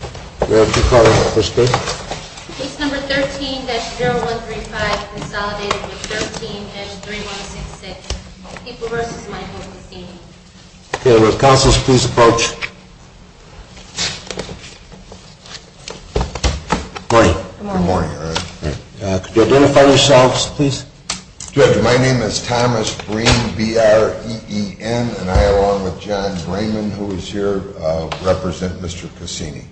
My name is Thomas Breen, B-R-E-E-N, and I, along with John Brayman, who is here, represent Mr. Cacini.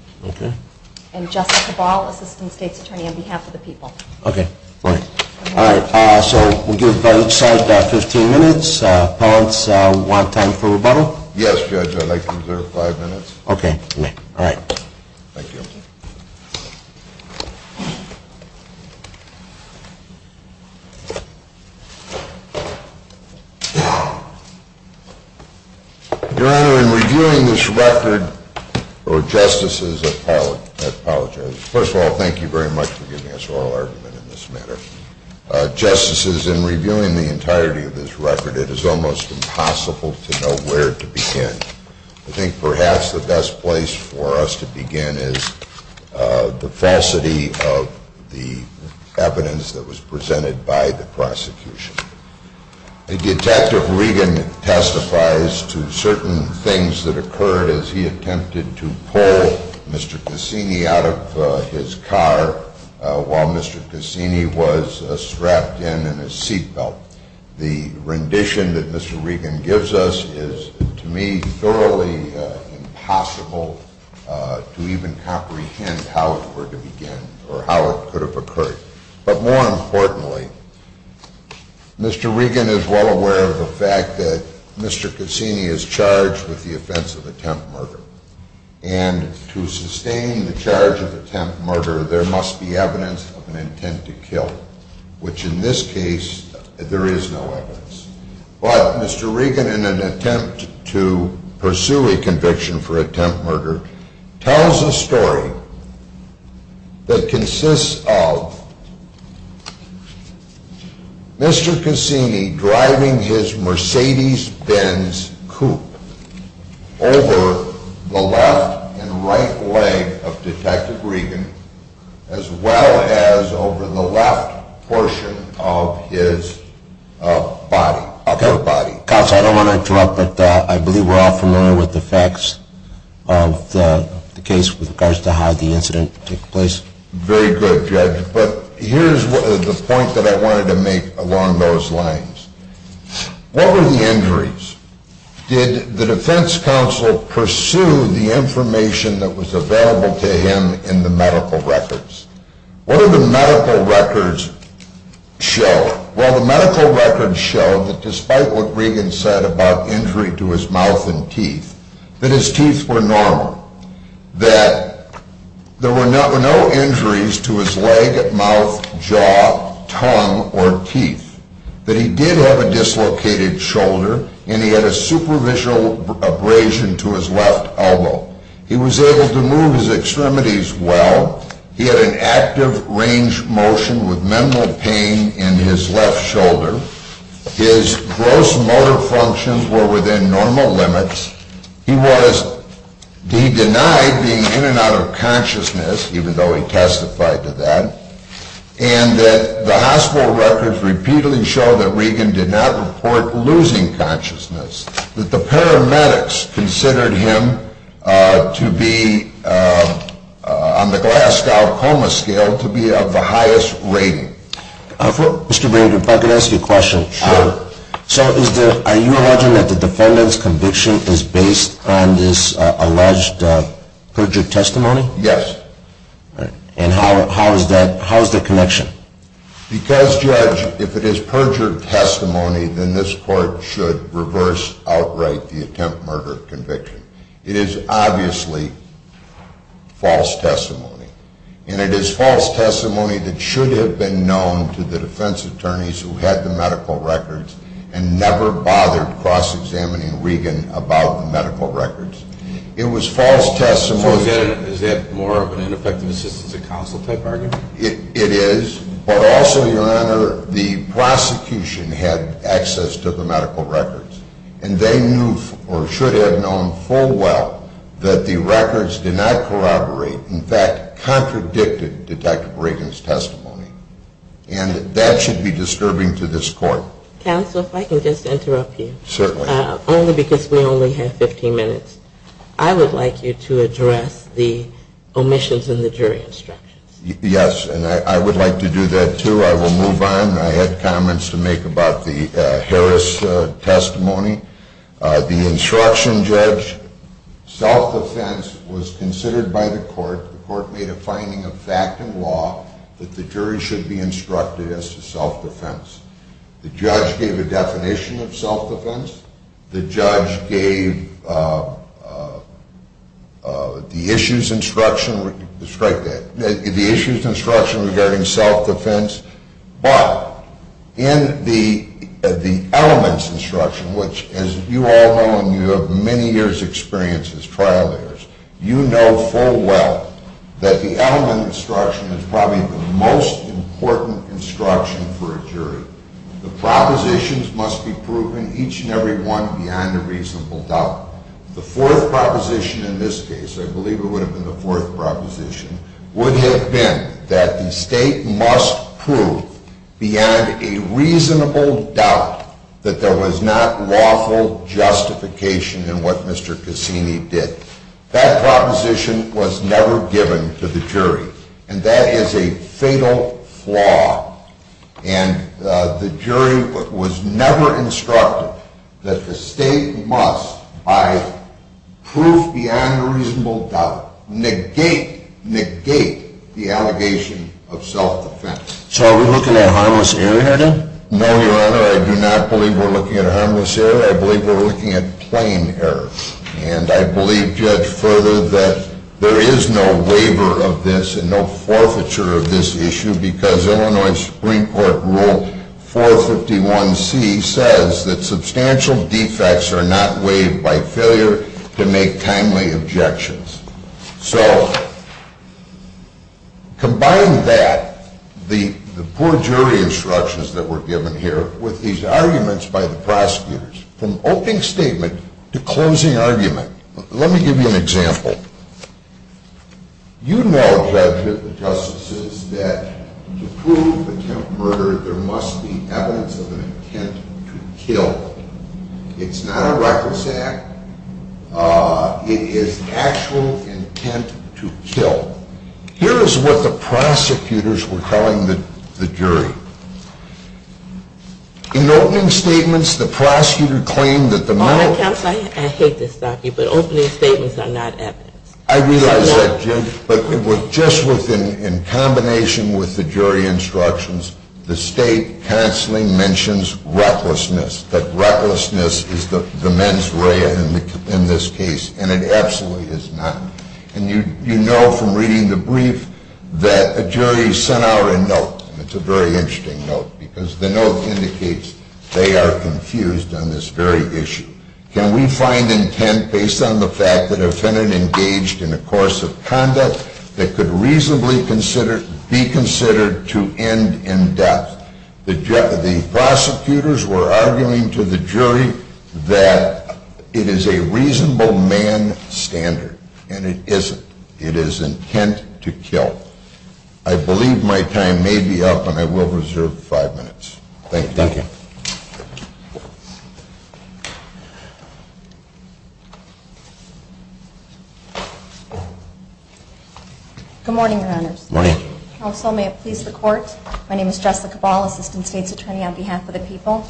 And Justice Cabal, Assistant State's Attorney, on behalf of the people. Okay, right. All right, so we'll give each side 15 minutes. Appellants, want time for rebuttal? Yes, Judge, I'd like to reserve five minutes. Okay, you may. All right. Thank you. Your Honor, in reviewing this record, or Justices, I apologize. First of all, thank you very much for giving us oral argument in this matter. Justices, in reviewing the entirety of this record, it is almost impossible to know where to begin. I think perhaps the best place for us to begin is the falsity of the evidence that was presented by the prosecution. Detective Regan testifies to certain things that occurred as he attempted to pull Mr. Cacini out of his car while Mr. Cacini was strapped in in his seat belt. The rendition that Mr. Regan gives us is, to me, thoroughly impossible to even comprehend how it were to begin or how it could have occurred. But more importantly, Mr. Regan is well aware of the fact that Mr. Cacini is charged with the offense of attempt murder. And to sustain the charge of attempt murder, there must be evidence of an intent to kill. Which in this case, there is no evidence. But Mr. Regan, in an attempt to pursue a conviction for attempt murder, tells a story that consists of Mr. Cacini driving his Mercedes-Benz coupe over the left and right leg of Detective Regan, as well as over the left portion of his upper body. Counsel, I don't want to interrupt, but I believe we're all familiar with the facts of the case with regards to how the incident took place. Very good, Judge. But here's the point that I wanted to make along those lines. What were the injuries? Did the defense counsel pursue the information that was available to him in the medical records? What did the medical records show? Well, the medical records showed that despite what Regan said about injury to his mouth and teeth, that his teeth were normal. That there were no injuries to his leg, mouth, jaw, tongue, or teeth. That he did have a dislocated shoulder, and he had a superficial abrasion to his left elbow. He was able to move his extremities well. He had an active range motion with minimal pain in his left shoulder. His gross motor functions were within normal limits. He denied being in and out of consciousness, even though he testified to that. And that the hospital records repeatedly show that Regan did not report losing consciousness. That the paramedics considered him to be, on the Glasgow Coma Scale, to be of the highest rating. Mr. Brady, if I could ask you a question. Sure. So, are you alleging that the defendant's conviction is based on this alleged perjured testimony? Yes. And how is that connection? Because, Judge, if it is perjured testimony, then this court should reverse outright the attempt murder conviction. It is obviously false testimony. And it is false testimony that should have been known to the defense attorneys who had the medical records and never bothered cross-examining Regan about the medical records. It was false testimony. So is that more of an ineffective assistance of counsel type argument? It is. But also, Your Honor, the prosecution had access to the medical records. And they knew, or should have known full well, that the records did not corroborate. In fact, contradicted Detective Regan's testimony. And that should be disturbing to this court. Counsel, if I can just interrupt you. Certainly. Only because we only have 15 minutes. I would like you to address the omissions in the jury instructions. Yes. And I would like to do that, too. I will move on. I had comments to make about the Harris testimony. The instruction, Judge, self-defense was considered by the court. The court made a finding of fact and law that the jury should be instructed as to self-defense. The judge gave a definition of self-defense. The judge gave the issues instruction regarding self-defense. But in the elements instruction, which, as you all know and you have many years' experience as trial lawyers, you know full well that the element instruction is probably the most important instruction for a jury. The propositions must be proven, each and every one, beyond a reasonable doubt. The fourth proposition in this case, I believe it would have been the fourth proposition, would have been that the state must prove beyond a reasonable doubt that there was not lawful justification in what Mr. Cassini did. That proposition was never given to the jury, and that is a fatal flaw. And the jury was never instructed that the state must, by proof beyond a reasonable doubt, negate, negate the allegation of self-defense. So are we looking at harmless error here, then? No, Your Honor, I do not believe we're looking at harmless error. I believe we're looking at plain error. And I believe, Judge Further, that there is no waiver of this and no forfeiture of this issue because Illinois Supreme Court Rule 451C says that substantial defects are not waived by failure to make timely objections. So combine that, the poor jury instructions that were given here, with these arguments by the prosecutors, from opening statement to closing argument. Let me give you an example. You know, judges and justices, that to prove attempt murder, there must be evidence of an intent to kill. It's not a reckless act. It is actual intent to kill. Here is what the prosecutors were telling the jury. In opening statements, the prosecutor claimed that the men... Counsel, I hate to stop you, but opening statements are not evidence. I realize that, Jim, but just in combination with the jury instructions, the state counseling mentions recklessness, that recklessness is the mens rea in this case, and it absolutely is not. And you know from reading the brief that a jury sent out a note, and it's a very interesting note, because the note indicates they are confused on this very issue. Can we find intent based on the fact that a defendant engaged in a course of conduct that could reasonably be considered to end in death? The prosecutors were arguing to the jury that it is a reasonable man standard and it isn't. It is intent to kill. I believe my time may be up, and I will reserve five minutes. Thank you. Thank you. Good morning, Your Honors. Good morning. Counsel, may it please the Court, my name is Jessica Ball, Assistant State's Attorney on behalf of the people.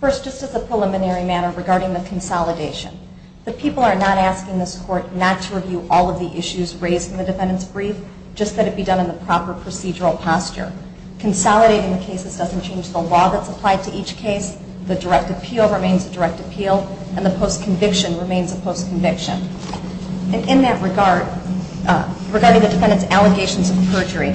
First, just as a preliminary matter regarding the consolidation, the people are not asking this Court not to review all of the issues raised in the defendant's brief, just that it be done in the proper procedural posture. Consolidating the cases doesn't change the law that's applied to each case. The direct appeal remains a direct appeal, and the post-conviction remains a post-conviction. And in that regard, regarding the defendant's allegations of perjury,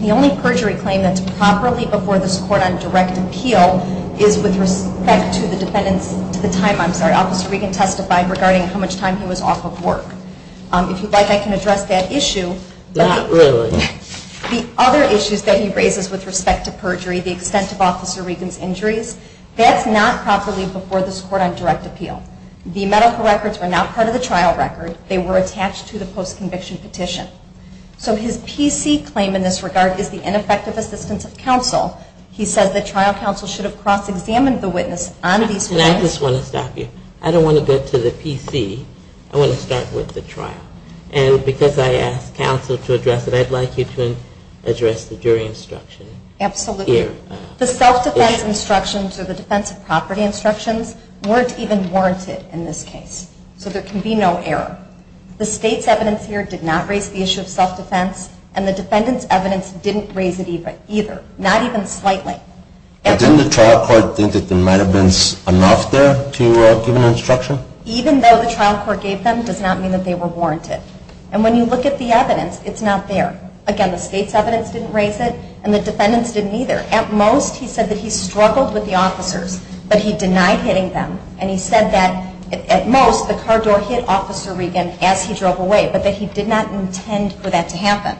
the only perjury claim that's properly before this Court on direct appeal is with respect to the defendant's, to the time, I'm sorry, Officer Regan testified regarding how much time he was off of work. If you'd like, I can address that issue. Really? The other issues that he raises with respect to perjury, the extent of Officer Regan's injuries, that's not properly before this Court on direct appeal. The medical records were not part of the trial record. They were attached to the post-conviction petition. So his PC claim in this regard is the ineffective assistance of counsel. He says that trial counsel should have cross-examined the witness on these claims. And I just want to stop you. I don't want to get to the PC. I want to start with the trial. And because I asked counsel to address it, I'd like you to address the jury instruction. Absolutely. The self-defense instructions or the defense of property instructions weren't even warranted in this case. So there can be no error. The State's evidence here did not raise the issue of self-defense, and the defendant's evidence didn't raise it either. Not even slightly. Didn't the trial court think that there might have been enough there to give an instruction? Even though the trial court gave them does not mean that they were warranted. And when you look at the evidence, it's not there. Again, the State's evidence didn't raise it, and the defendant's didn't either. At most, he said that he struggled with the officers, but he denied hitting them. And he said that at most the car door hit Officer Regan as he drove away, but that he did not intend for that to happen.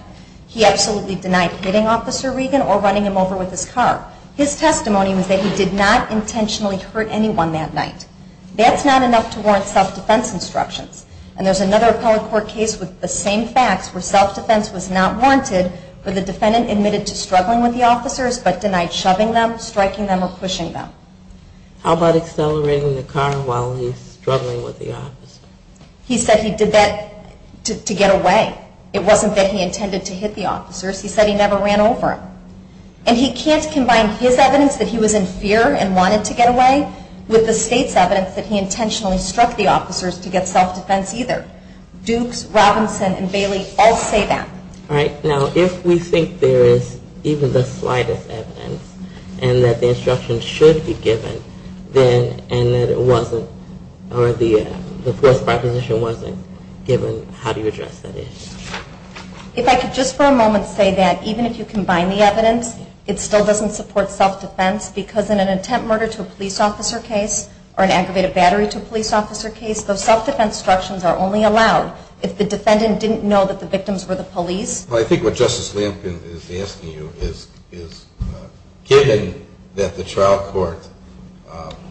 He absolutely denied hitting Officer Regan or running him over with his car. His testimony was that he did not intentionally hurt anyone that night. That's not enough to warrant self-defense instructions. And there's another appellate court case with the same facts where self-defense was not warranted, but the defendant admitted to struggling with the officers, but denied shoving them, striking them, or pushing them. How about accelerating the car while he's struggling with the officers? He said he did that to get away. It wasn't that he intended to hit the officers. He said he never ran over them. And he can't combine his evidence that he was in fear and wanted to get away with the State's evidence that he intentionally struck the officers to get self-defense either. Dukes, Robinson, and Bailey all say that. All right. Now, if we think there is even the slightest evidence and that the instructions should be given, and that it wasn't or the forced proposition wasn't given, how do you address that issue? If I could just for a moment say that even if you combine the evidence, it still doesn't support self-defense because in an attempt murder to a police officer case or an aggravated battery to a police officer case, those self-defense instructions are only allowed if the defendant didn't know that the victims were the police. Well, I think what Justice Lampkin is asking you is, given that the trial court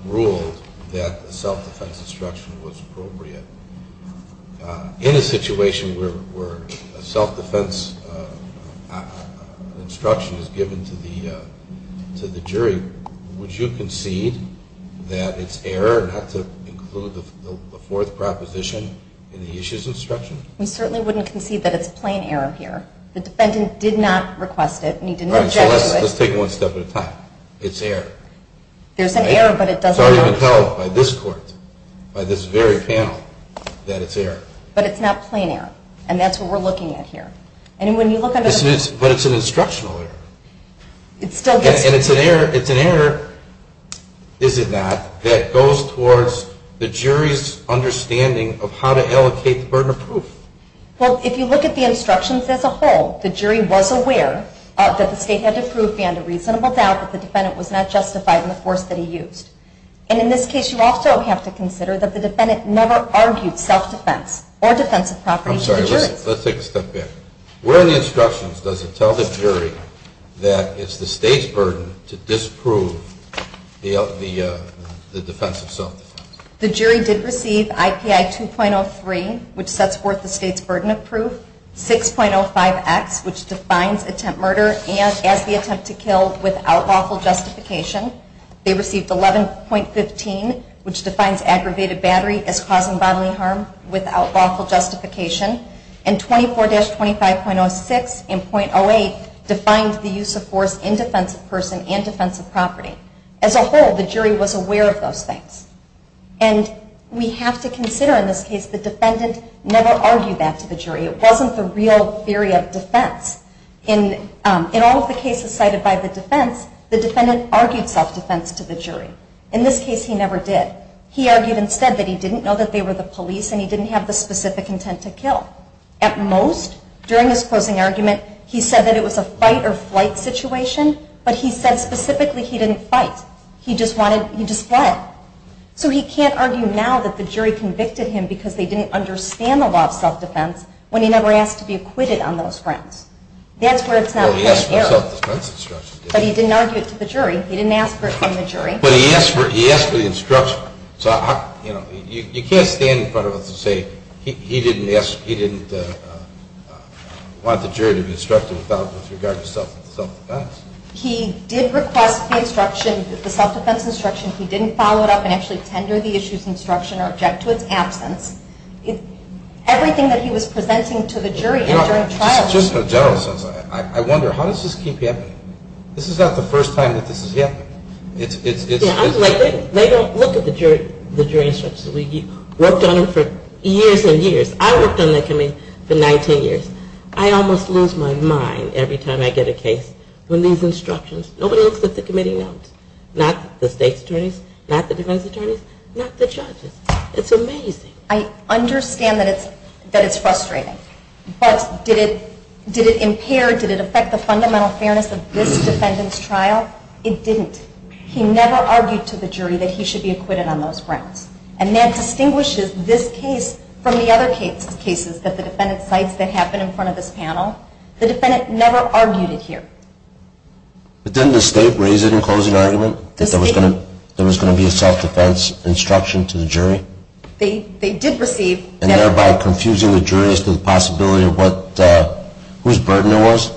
ruled that the self-defense instruction was appropriate, in a situation where a self-defense instruction is given to the jury, would you concede that it's error not to include the forced proposition in the issues instruction? We certainly wouldn't concede that it's plain error here. The defendant did not request it and he didn't object to it. All right. So let's take it one step at a time. It's error. There's an error, but it doesn't… It's already been held by this court, by this very panel, that it's error. But it's not plain error, and that's what we're looking at here. And when you look at… But it's an instructional error. It still gets… And it's an error. It's an error, is it not, that goes towards the jury's understanding of how to allocate the burden of proof. Well, if you look at the instructions as a whole, the jury was aware that the state had to prove beyond a reasonable doubt that the defendant was not justified in the force that he used. And in this case, you also have to consider that the defendant never argued self-defense or defensive property to the jury. I'm sorry. Let's take a step back. Where in the instructions does it tell the jury that it's the state's burden to disprove the defense of self-defense? The jury did receive IPI 2.03, which sets forth the state's burden of proof, 6.05X, which defines attempt murder as the attempt to kill without lawful justification. They received 11.15, which defines aggravated battery as causing bodily harm without lawful justification, and 24-25.06 and .08 defined the use of force in defensive person and defensive property. As a whole, the jury was aware of those things. And we have to consider, in this case, the defendant never argued that to the jury. It wasn't the real theory of defense. In all of the cases cited by the defense, the defendant argued self-defense to the jury. In this case, he never did. He argued instead that he didn't know that they were the police and he didn't have the specific intent to kill. At most, during his closing argument, he said that it was a fight-or-flight situation, but he said specifically he didn't fight. He just wanted, he just fled. So he can't argue now that the jury convicted him because they didn't understand the law of self-defense when he never asked to be acquitted on those fronts. That's where it's not fair. But he didn't argue it to the jury. He didn't ask for it from the jury. But he asked for the instruction. You can't stand in front of us and say he didn't want the jury to be instructed with regard to self-defense. He did request the instruction, the self-defense instruction. He didn't follow it up and actually tender the issues instruction or object to its absence. Everything that he was presenting to the jury during trial... Just in a general sense, I wonder, how does this keep happening? This is not the first time that this has happened. They don't look at the jury instructions. We've worked on them for years and years. I worked on that committee for 19 years. I almost lose my mind every time I get a case when these instructions, nobody looks at the committee notes. Not the state's attorneys, not the defense attorneys, not the judges. It's amazing. I understand that it's frustrating. But did it impair, did it affect the fundamental fairness of this defendant's trial? It didn't. He never argued to the jury that he should be acquitted on those grounds. And that distinguishes this case from the other cases that the defendant cites that happen in front of this panel. The defendant never argued it here. But didn't the state raise it in closing argument that there was going to be a self-defense instruction to the jury? They did receive. And thereby confusing the jury as to the possibility of whose burden it was?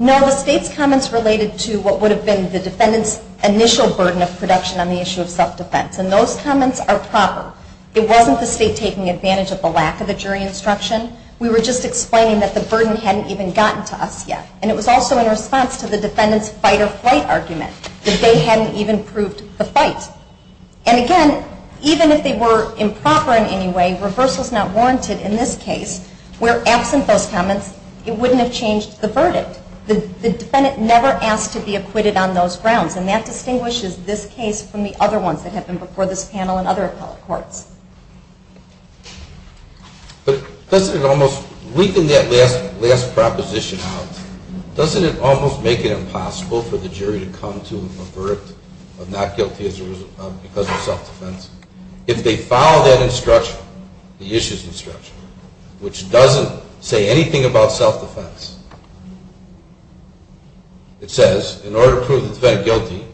No, the state's comments related to what would have been the defendant's initial burden of production on the issue of self-defense. And those comments are proper. It wasn't the state taking advantage of the lack of the jury instruction. We were just explaining that the burden hadn't even gotten to us yet. And it was also in response to the defendant's fight-or-flight argument that they hadn't even proved the fight. And again, even if they were improper in any way, reversal is not warranted in this case. Where absent those comments, it wouldn't have changed the verdict. The defendant never asked to be acquitted on those grounds. And that distinguishes this case from the other ones that have been before this panel and other appellate courts. But doesn't it almost, leaving that last proposition out, doesn't it almost make it impossible for the jury to come to an avert of not guilty because of self-defense? If they follow that instruction, the issue's instruction, which doesn't say anything about self-defense, it says in order to prove the defendant guilty,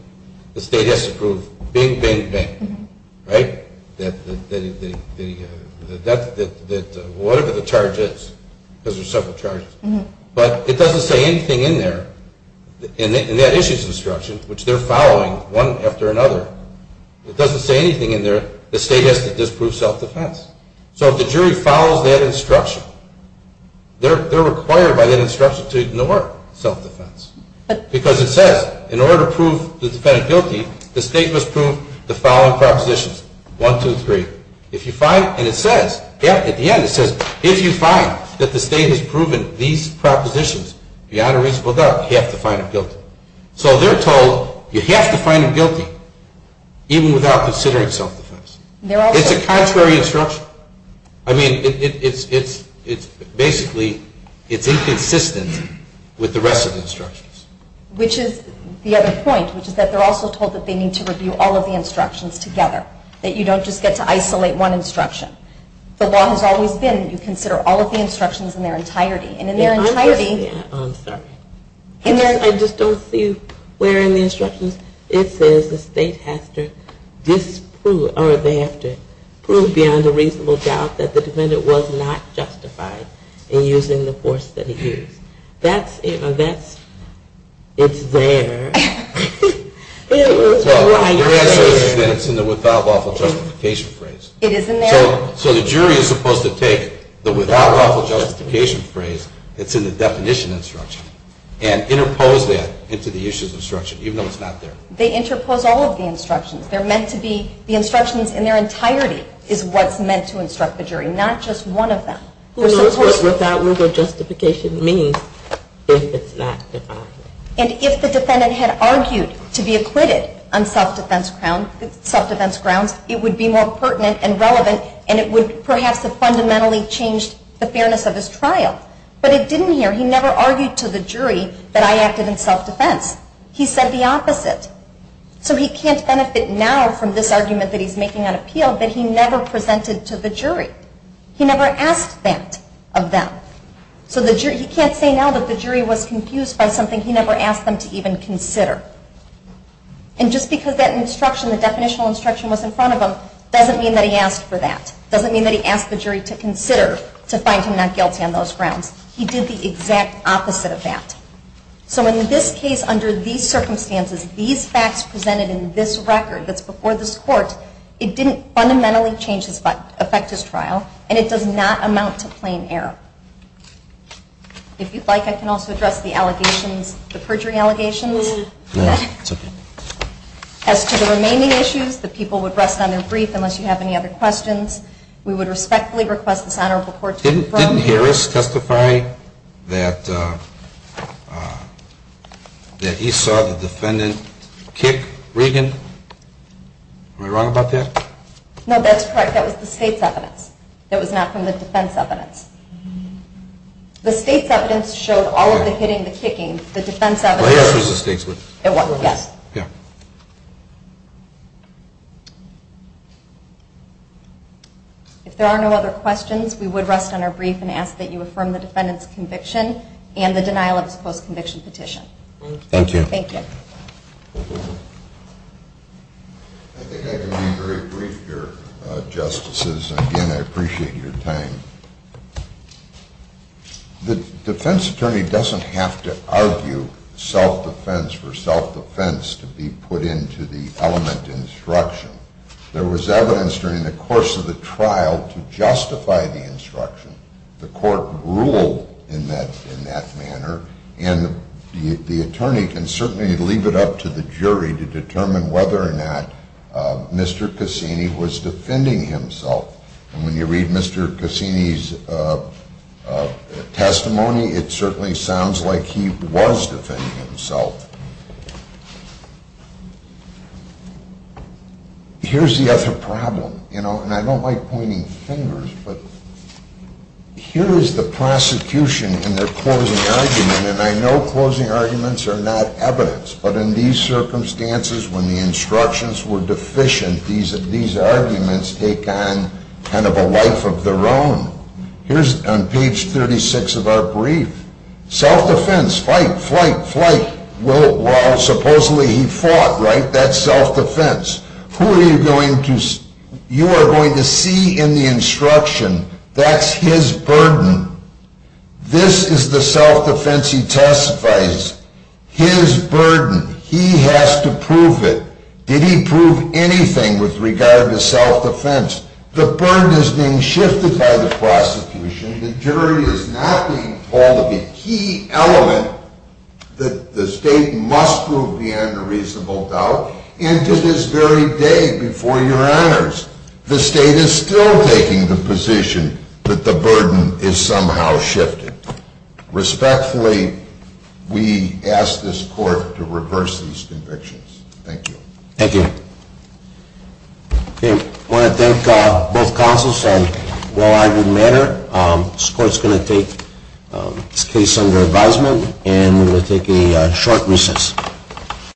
the state has to prove bing, bing, bing, right? That whatever the charge is, because there's several charges, but it doesn't say anything in there. And that issue's instruction, which they're following one after another, it doesn't say anything in there. The state has to disprove self-defense. So if the jury follows that instruction, they're required by that instruction to ignore self-defense. Because it says in order to prove the defendant guilty, the state must prove the following propositions, one, two, three. If you find, and it says, at the end it says, if you find that the state has proven these propositions beyond a reasonable doubt, you have to find them guilty. So they're told you have to find them guilty, even without considering self-defense. It's a contrary instruction. I mean, it's basically, it's inconsistent with the rest of the instructions. Which is the other point, which is that they're also told that they need to review all of the instructions together, that you don't just get to isolate one instruction. The law has always been you consider all of the instructions in their entirety. And in their entirety... I'm sorry. I just don't see where in the instructions it says the state has to disprove, or they have to prove beyond a reasonable doubt that the defendant was not justified in using the force that he used. That's, you know, that's, it's there. It was right there. Your answer is that it's in the without lawful justification phrase. It is in there. So the jury is supposed to take the without lawful justification phrase that's in the definition instruction and interpose that into the use of the instruction, even though it's not there. They interpose all of the instructions. They're meant to be, the instructions in their entirety is what's meant to instruct the jury, not just one of them. Without legal justification means if it's not defined. And if the defendant had argued to be acquitted on self-defense grounds, it would be more pertinent and relevant, and it would perhaps have fundamentally changed the fairness of his trial. But it didn't here. He never argued to the jury that I acted in self-defense. He said the opposite. So he can't benefit now from this argument that he's making on appeal that he never presented to the jury. He never asked that of them. So the jury, he can't say now that the jury was confused by something he never asked them to even consider. And just because that instruction, the definitional instruction was in front of him, doesn't mean that he asked for that. Doesn't mean that he asked the jury to consider to find him not guilty on those grounds. He did the exact opposite of that. So in this case, under these circumstances, these facts presented in this record that's before this court, it didn't fundamentally affect his trial, and it does not amount to plain error. If you'd like, I can also address the allegations, the perjury allegations. No, that's okay. As to the remaining issues, the people would rest on their brief unless you have any other questions. We would respectfully request this honorable court to approve. Didn't Harris testify that he saw the defendant kick Regan? Am I wrong about that? No, that's correct. That was the state's evidence. That was not from the defense evidence. The state's evidence showed all of the hitting, the kicking. The defense evidence. Well, Harris was the state's witness. Yes. Yeah. If there are no other questions, we would rest on our brief and ask that you affirm the defendant's conviction and the denial of his post-conviction petition. Thank you. Thank you. I think I can be very brief here, Justices. Again, I appreciate your time. The defense attorney doesn't have to argue self-defense for self-defense to be put into the element instruction. There was evidence during the course of the trial to justify the instruction. The court ruled in that manner, and the attorney can certainly leave it up to the jury to determine whether or not Mr. Cassini was defending himself. And when you read Mr. Cassini's testimony, it certainly sounds like he was defending himself. Here's the other problem, you know, and I don't like pointing fingers, but here is the prosecution in their closing argument, and I know closing arguments are not evidence, but in these circumstances, when the instructions were deficient, these arguments take on kind of a life of their own. Here's on page 36 of our brief. Self-defense, fight, flight, flight. Well, supposedly he fought, right? That's self-defense. Who are you going to see? You are going to see in the instruction that's his burden. This is the self-defense he testifies, his burden. He has to prove it. Did he prove anything with regard to self-defense? The burden is being shifted by the prosecution. The jury is not being told of a key element that the state must prove beyond a reasonable doubt, and to this very day, before your honors, the state is still taking the position that the burden is somehow shifted. Respectfully, we ask this court to reverse these convictions. Thank you. Thank you. Okay. I want to thank both counsels on a well-argued matter. This court is going to take this case under advisement, and we're going to take a short recess.